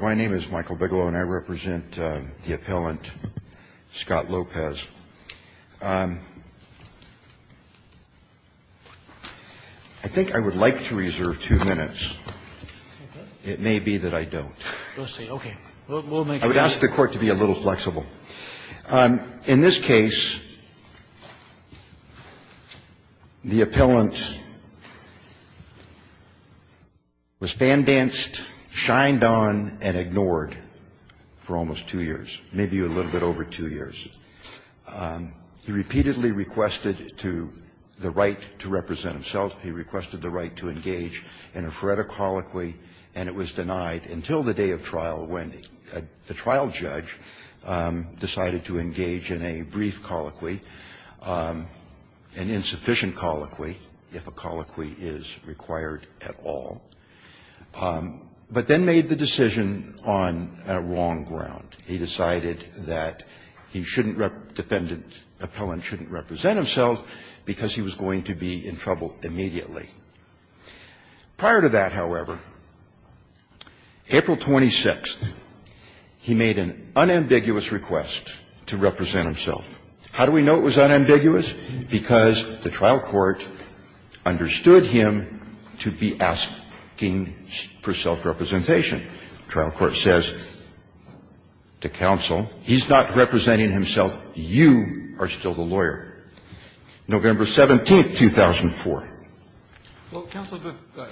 My name is Michael Bigelow, and I represent the appellant, Scott Lopez. I think I would like to reserve two minutes. It may be that I don't. I would ask the Court to be a little flexible. In this case, the appellant was fan-danced, shined on, and ignored for almost two years, maybe a little bit over two years. He repeatedly requested to the right to represent himself. He requested the right to engage in a phoretic holoquy, and it was denied until the day of trial when the trial judge decided to engage in a brief holoquy, an insufficient holoquy, if a holoquy is required at all. But then made the decision on a wrong ground. He decided that he shouldn't rep the defendant, the appellant shouldn't represent himself because he was going to be in trouble immediately. Prior to that, however, April 26th, he made an unambiguous request to represent himself. How do we know it was unambiguous? Because the trial court understood him to be asking for self-representation. The trial court says to counsel, he's not representing himself, you are still the lawyer. November 17th, 2004. Well, counsel,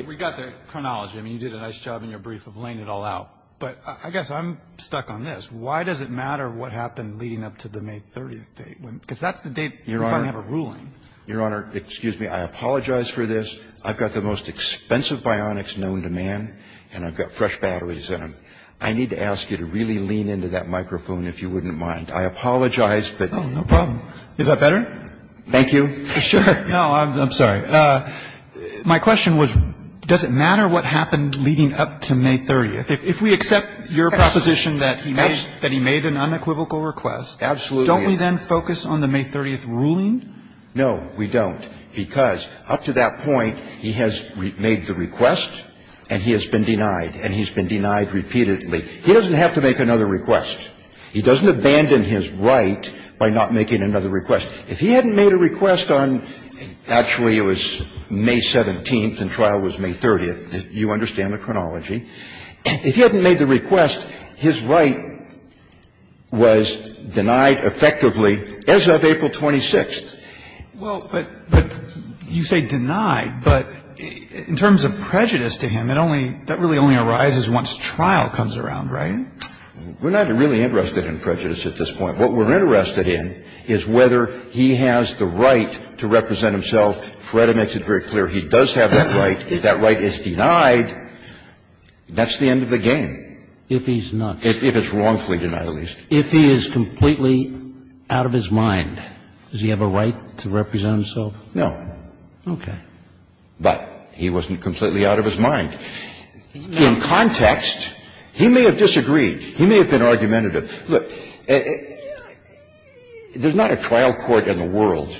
we got the chronology. I mean, you did a nice job in your brief of laying it all out. But I guess I'm stuck on this. Why does it matter what happened leading up to the May 30th date? Because that's the date you finally have a ruling. Your Honor, excuse me, I apologize for this. I've got the most expensive bionics known to man, and I've got fresh batteries in them. I need to ask you to really lean into that microphone if you wouldn't mind. I apologize, but you know. No problem. Is that better? Thank you. Sure. No, I'm sorry. My question was, does it matter what happened leading up to May 30th? If we accept your proposition that he made an unequivocal request, don't we then focus on the May 30th ruling? No, we don't, because up to that point, he has made the request and he has been denied, and he's been denied repeatedly. He doesn't have to make another request. He doesn't abandon his right by not making another request. If he hadn't made a request on actually it was May 17th and trial was May 30th, you understand the chronology. If he hadn't made the request, his right was denied effectively as of April 26th. Well, but you say denied, but in terms of prejudice to him, that really only arises once trial comes around, right? We're not really interested in prejudice at this point. What we're interested in is whether he has the right to represent himself. FREDA makes it very clear he does have that right. If that right is denied, that's the end of the game. If he's not. If it's wrongfully denied, at least. If he is completely out of his mind, does he have a right to represent himself? No. Okay. But he wasn't completely out of his mind. In context, he may have disagreed. He may have been argumentative. Look, there's not a trial court in the world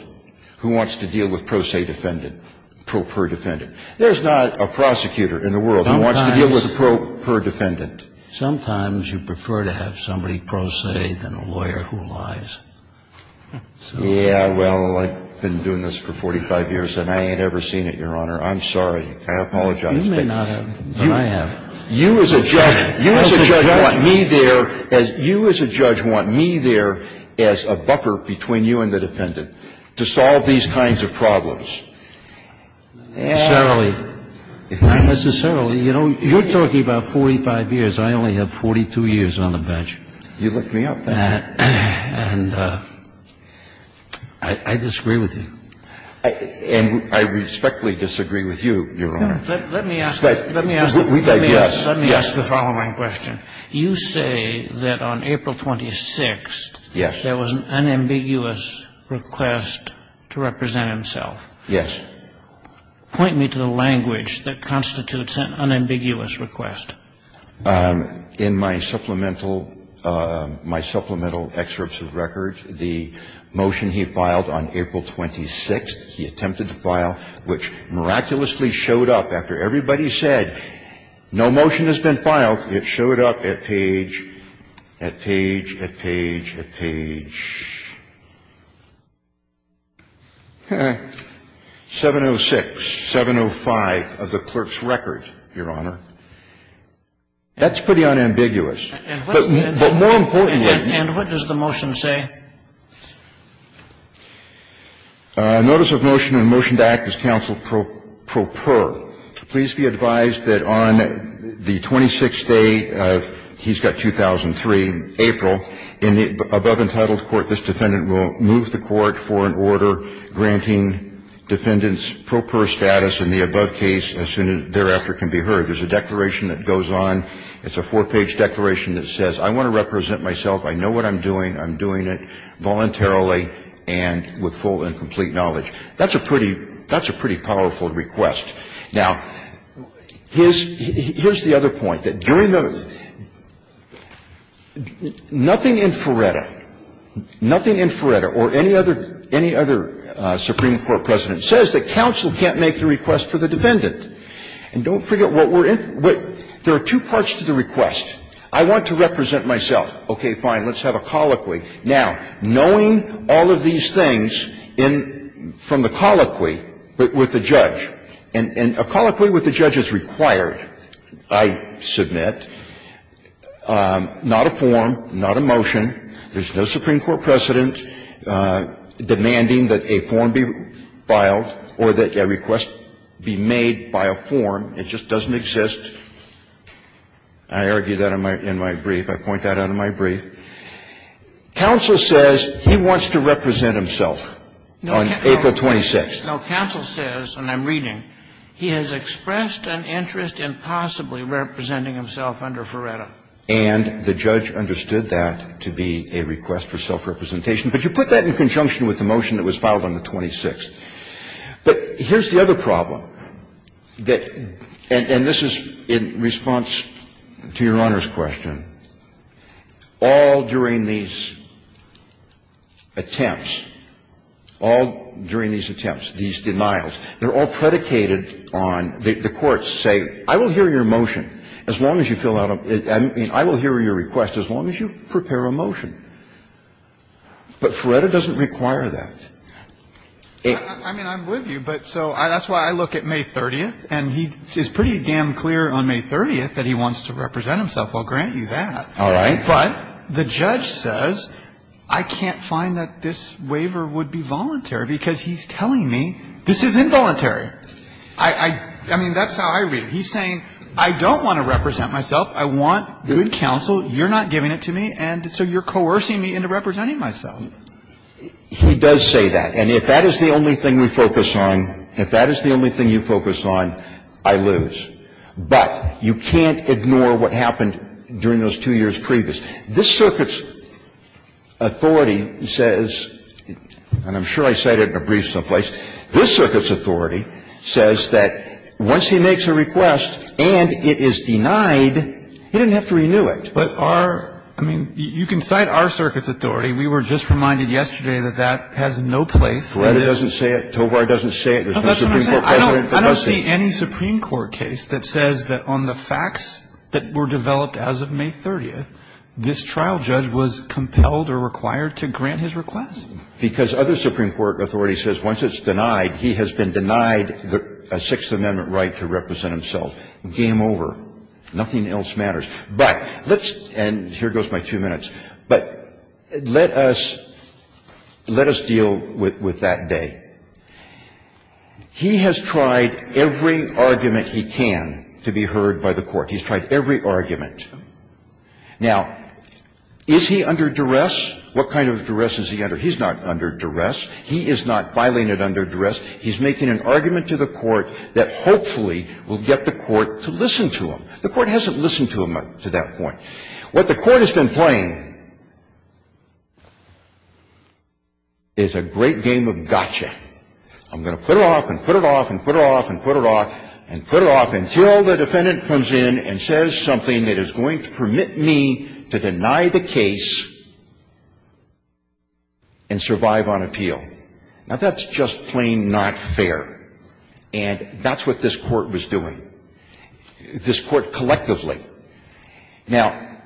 who wants to deal with pro se defendant pro per defendant. There's not a prosecutor in the world who wants to deal with a pro per defendant. Sometimes you prefer to have somebody pro se than a lawyer who lies. Yeah, well, I've been doing this for 45 years and I ain't ever seen it, Your Honor. I'm sorry. I apologize. You may not have, but I have. You as a judge, you as a judge want me there as a judge. You as a judge want me there as a buffer between you and the defendant to solve these kinds of problems. Not necessarily. Not necessarily. You know, you're talking about 45 years. I only have 42 years on the bench. You lift me up, then. And I disagree with you. And I respectfully disagree with you, Your Honor. Let me ask the following question. You say that on April 26th, there was an unambiguous request to represent himself. Yes. Point me to the language that constitutes an unambiguous request. In my supplemental excerpts of records, the motion he filed on April 26th, he attempted to file, which miraculously showed up after everybody said, no motion has been filed, it showed up at page, at page, at page, at page 706, 705 of the clerk's record, Your Honor. That's pretty unambiguous. But more importantly And what does the motion say? Notice of motion and motion to act as counsel pro per. Please be advised that on the 26th day of, he's got 2003, April, in the above-entitled court, this defendant will move the court for an order granting defendants pro per status in the above case as soon as thereafter can be heard. There's a declaration that goes on. It's a four-page declaration that says, I want to represent myself. I know what I'm doing. I'm doing it voluntarily and with full and complete knowledge. That's a pretty powerful request. Now, here's the other point, that during the nothing in Ferretta, nothing in Ferretta or any other, any other Supreme Court president says that counsel can't make the request for the defendant. And don't forget what we're in, there are two parts to the request. I want to represent myself. Okay, fine, let's have a colloquy. Now, knowing all of these things in, from the colloquy, but with the judge, and a colloquy with the judge is required, I submit, not a form, not a motion, there's no Supreme Court precedent demanding that a form be filed or that a request be made by a form. It just doesn't exist. I argue that in my brief, I point that out in my brief. Counsel says he wants to represent himself on April 26th. No, counsel says, and I'm reading, he has expressed an interest in possibly representing himself under Ferretta. And the judge understood that to be a request for self-representation. But you put that in conjunction with the motion that was filed on the 26th. But here's the other problem, that, and this is in response to Your Honor's question, all during these attempts, all during these attempts, these denials, they're all predicated on, the courts say, I will hear your motion, as long as you fill out a, I mean, I will hear your request as long as you prepare a motion. But Ferretta doesn't require that. I mean, I'm with you, but so that's why I look at May 30th, and he's pretty damn clear on May 30th that he wants to represent himself. I'll grant you that. But the judge says, I can't find that this waiver would be voluntary, because he's telling me this is involuntary. I mean, that's how I read it. He's saying, I don't want to represent myself. I want good counsel. You're not giving it to me, and so you're coercing me into representing myself. He does say that. And if that is the only thing we focus on, if that is the only thing you focus on, I lose. But you can't ignore what happened during those two years previous. This Circuit's authority says, and I'm sure I cited it in a brief someplace, this Circuit's authority says that once he makes a request and it is denied, he didn't have to renew it. But our – I mean, you can cite our Circuit's authority. We were just reminded yesterday that that has no place. Ferretta doesn't say it. Tovar doesn't say it. There's no Supreme Court precedent. There's no case that says that on the facts that were developed as of May 30th, this trial judge was compelled or required to grant his request. Because other Supreme Court authority says once it's denied, he has been denied a Sixth Amendment right to represent himself. Game over. Nothing else matters. But let's – and here goes my two minutes. But let us – let us deal with that day. He has tried every argument he can to be heard by the Court. He's tried every argument. Now, is he under duress? What kind of duress is he under? He's not under duress. He is not filing it under duress. He's making an argument to the Court that hopefully will get the Court to listen to him. The Court hasn't listened to him up to that point. What the Court has been playing is a great game of gotcha. I'm going to put it off and put it off and put it off and put it off and put it off until the defendant comes in and says something that is going to permit me to deny the case and survive on appeal. Now, that's just plain not fair. And that's what this Court was doing, this Court collectively. Now,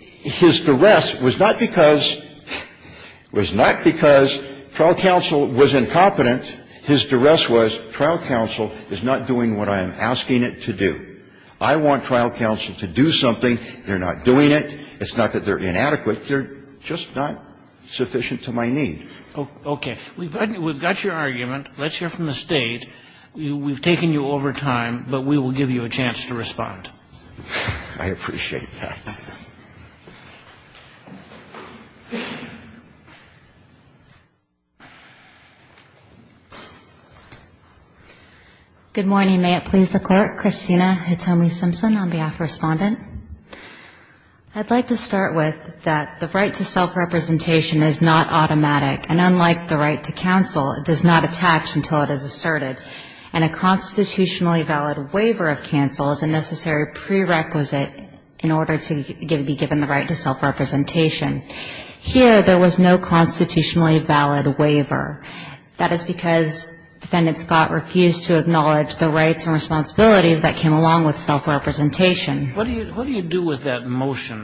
his duress was not because – was not because trial counsel was incompetent. His duress was trial counsel is not doing what I am asking it to do. I want trial counsel to do something. They're not doing it. It's not that they're inadequate. They're just not sufficient to my need. Okay. We've got your argument. Let's hear from the State. We've taken you over time, but we will give you a chance to respond. I appreciate that. Good morning. May it please the Court. Christina Hitomi Simpson on behalf of Respondent. I'd like to start with that the right to self-representation is not automatic, and unlike the right to counsel, it does not attach until it is asserted. And a constitutionally valid waiver of counsel is a necessary prerequisite in order to be given the right to self-representation. Here, there was no constitutionally valid waiver. That is because Defendant Scott refused to acknowledge the rights and responsibilities that came along with self-representation. What do you do with that motion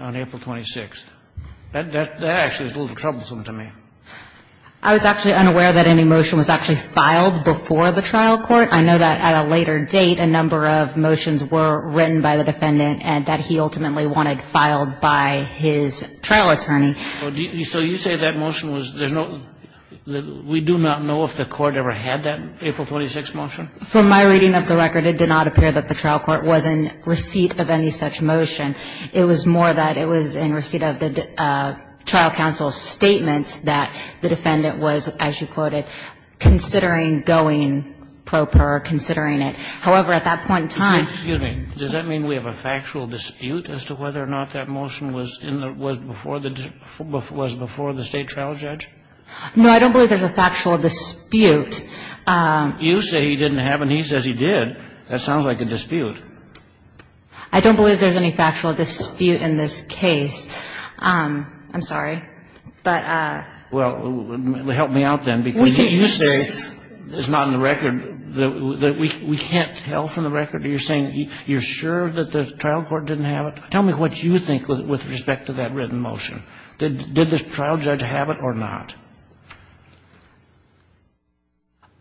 on April 26th? That actually is a little troublesome to me. I was actually unaware that any motion was actually filed before the trial court. I know that at a later date, a number of motions were written by the Defendant and that he ultimately wanted filed by his trial attorney. So you say that motion was, there's no, we do not know if the court ever had that April 26 motion? From my reading of the record, it did not appear that the trial court was in receipt of any such motion. It was more that it was in receipt of the trial counsel's statement that the Defendant was, as you quoted, considering going pro per, considering it. However, at that point in time. Excuse me, does that mean we have a factual dispute as to whether or not that motion was in the, was before the, was before the State trial judge? No, I don't believe there's a factual dispute. You say he didn't have and he says he did. That sounds like a dispute. I don't believe there's any factual dispute in this case. I'm sorry. But. Well, help me out then. Because you say, it's not in the record, that we can't tell from the record, you're saying you're sure that the trial court didn't have it? Tell me what you think with respect to that written motion. Did the trial judge have it or not?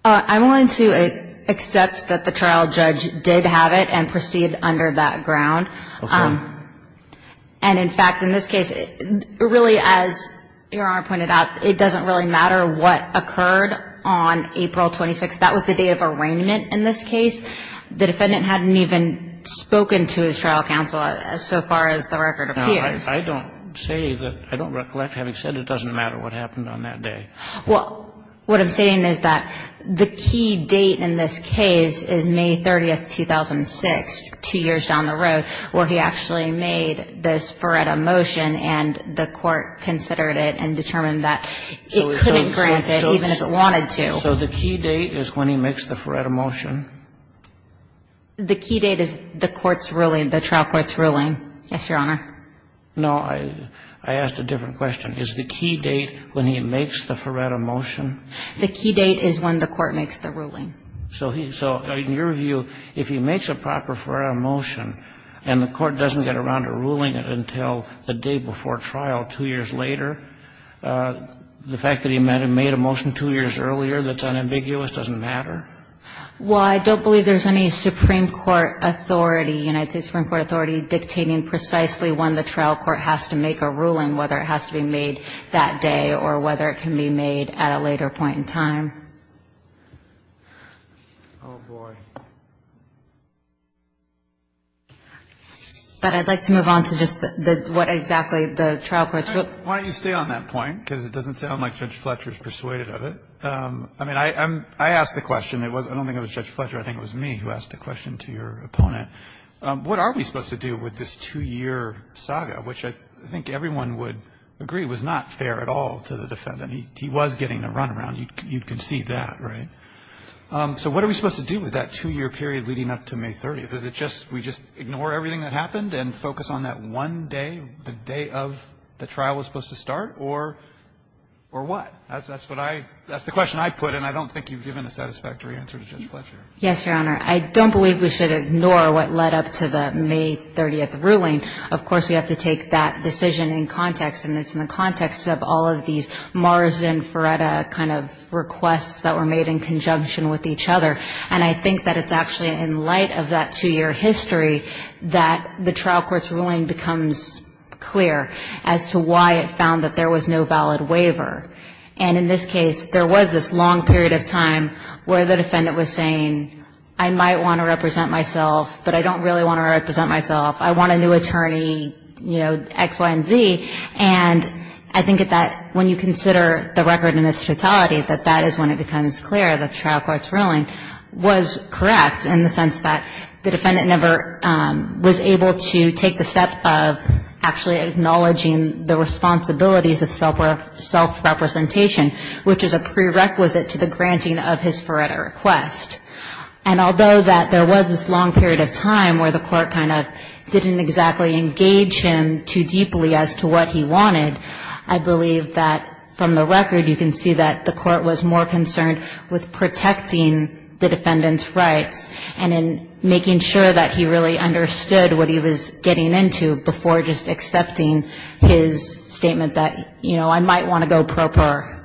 I'm willing to accept that the trial judge did have it and proceed under that ground. Okay. And in fact, in this case, really, as Your Honor pointed out, it doesn't really matter what occurred on April 26th. That was the day of arraignment in this case. The Defendant hadn't even spoken to his trial counsel so far as the record appears. I don't say that, I don't recollect having said it doesn't matter what happened on that day. Well, what I'm saying is that the key date in this case is May 30th, 2006, two years down the road, where he actually made this Faretta motion and the court considered it and determined that it couldn't grant it even if it wanted to. So the key date is when he makes the Faretta motion? The key date is the court's ruling, the trial court's ruling. Yes, Your Honor. No, I asked a different question. Is the key date when he makes the Faretta motion? The key date is when the court makes the ruling. So in your view, if he makes a proper Faretta motion and the court doesn't get around to ruling it until the day before trial, two years later, the fact that he made a motion two years earlier that's unambiguous doesn't matter? The key date is when the trial court has to make a ruling, whether it has to be made that day or whether it can be made at a later point in time. Oh, boy. But I'd like to move on to just the what exactly the trial court's rule. Why don't you stay on that point, because it doesn't sound like Judge Fletcher is persuaded of it. I mean, I asked the question. I don't think it was Judge Fletcher. I think it was me who asked the question to your opponent. What are we supposed to do with this two-year saga, which I think everyone would agree was not fair at all to the defendant? He was getting a runaround. You can see that, right? So what are we supposed to do with that two-year period leading up to May 30th? Is it just we just ignore everything that happened and focus on that one day, the day of the trial was supposed to start, or what? That's what I – that's the question I put, and I don't think you've given a satisfactory answer to Judge Fletcher. Yes, Your Honor. I don't believe we should ignore what led up to the May 30th ruling. Of course, we have to take that decision in context, and it's in the context of all of these Marsden-Ferretta kind of requests that were made in conjunction with each other. And I think that it's actually in light of that two-year history that the trial court's ruling becomes clear as to why it found that there was no valid waiver. And in this case, there was this long period of time where the defendant was saying, I might want to represent myself, but I don't really want to represent myself. I want a new attorney, you know, X, Y, and Z. And I think that when you consider the record in its totality, that that is when it becomes clear that the trial court's ruling was correct in the sense that the defendant never was able to take the step of actually acknowledging the responsibilities of self-worth. It was a direct representation, which is a prerequisite to the granting of his Ferretta request. And although that there was this long period of time where the court kind of didn't exactly engage him too deeply as to what he wanted, I believe that from the record you can see that the court was more concerned with protecting the defendant's rights and in making sure that he really understood what he was getting into before just accepting his statement that, you know, I might want to go pro-poor.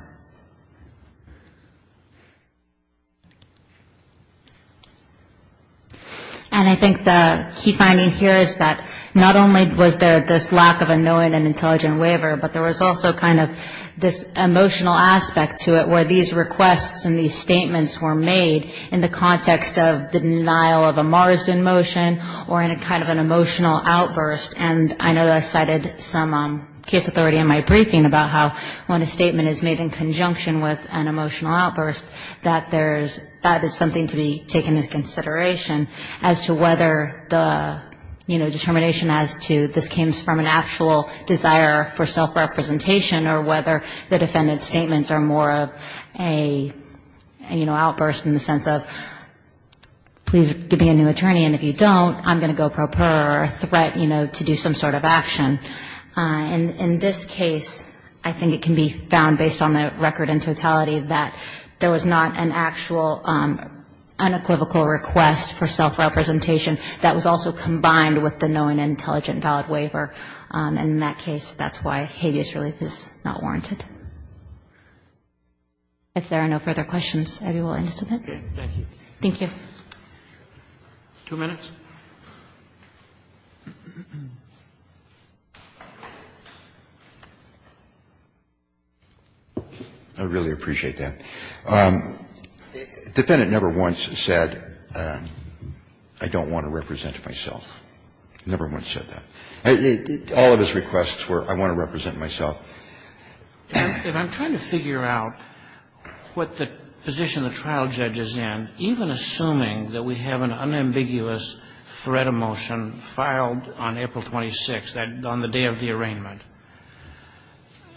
And I think the key finding here is that not only was there this lack of a knowing and intelligent waiver, but there was also kind of this emotional aspect to it where these requests and these statements were made in the context of the denial of a Marsden motion or in a kind of an emotional outburst. And I know that I cited some case authority in my briefing about how when a statement is made in conjunction with an emotional outburst, that there's, that is something to be taken into consideration as to whether the, you know, determination as to this came from an actual desire for self-representation or whether the defendant's statements are more of a, you know, outburst in the sense of please give me a new attorney and if you don't, I'm going to go pro-poor or a threat, you know, to do some sort of action. And in this case, I think it can be found based on the record in totality that there was not an actual unequivocal request for self-representation. That was also combined with the knowing and intelligent valid waiver. And in that case, that's why habeas relief is not warranted. If there are no further questions, I will end this event. Thank you. Two minutes. I really appreciate that. The defendant never once said, I don't want to represent myself. Never once said that. All of his requests were, I want to represent myself. If I'm trying to figure out what the position the trial judge is in, even assuming that we have an unambiguous FARETA motion filed on April 26th, on the day of the arraignment,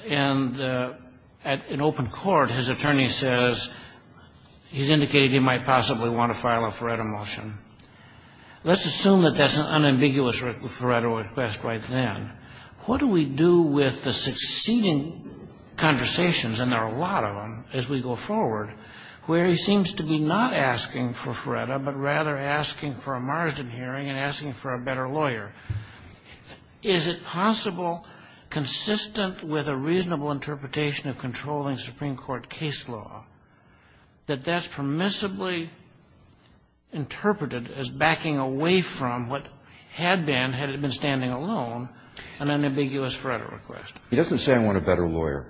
and at an open court, his attorney says he's indicated he might possibly want to file a FARETA motion. Let's assume that that's an unambiguous FARETA request right then. What do we do with the succeeding conversations? And there are a lot of them as we go forward, where he seems to be not asking for FARETA, but rather asking for a margin hearing and asking for a better lawyer. Is it possible, consistent with a reasonable interpretation of controlling Supreme Court case law, that that's permissibly interpreted as backing away from what had been, had it been standing alone, an unambiguous FARETA request? He doesn't say, I want a better lawyer.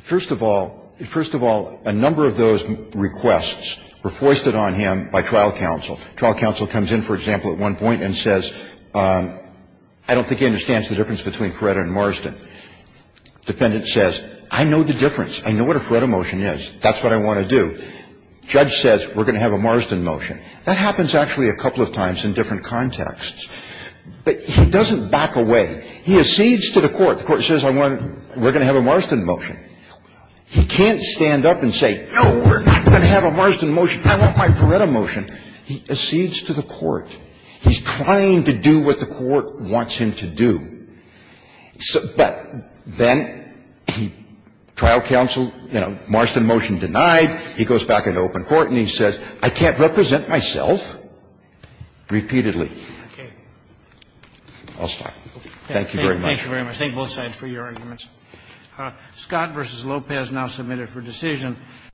First of all, a number of those requests were foisted on him by trial counsel. Trial counsel comes in, for example, at one point and says, I don't think he understands the difference between FARETA and Marsden. Defendant says, I know the difference. I know what a FARETA motion is. That's what I want to do. Judge says, we're going to have a Marsden motion. That happens actually a couple of times in different contexts. But he doesn't back away. He accedes to the court. The court says, we're going to have a Marsden motion. He can't stand up and say, no, we're not going to have a Marsden motion. I want my FARETA motion. He accedes to the court. He's trying to do what the court wants him to do. But then trial counsel, you know, Marsden motion denied. He goes back into open court and he says, I can't represent myself repeatedly. I'll stop. Thank you very much. Thank you very much. Thank you both sides for your arguments. Scott v. Lopez now submitted for decision.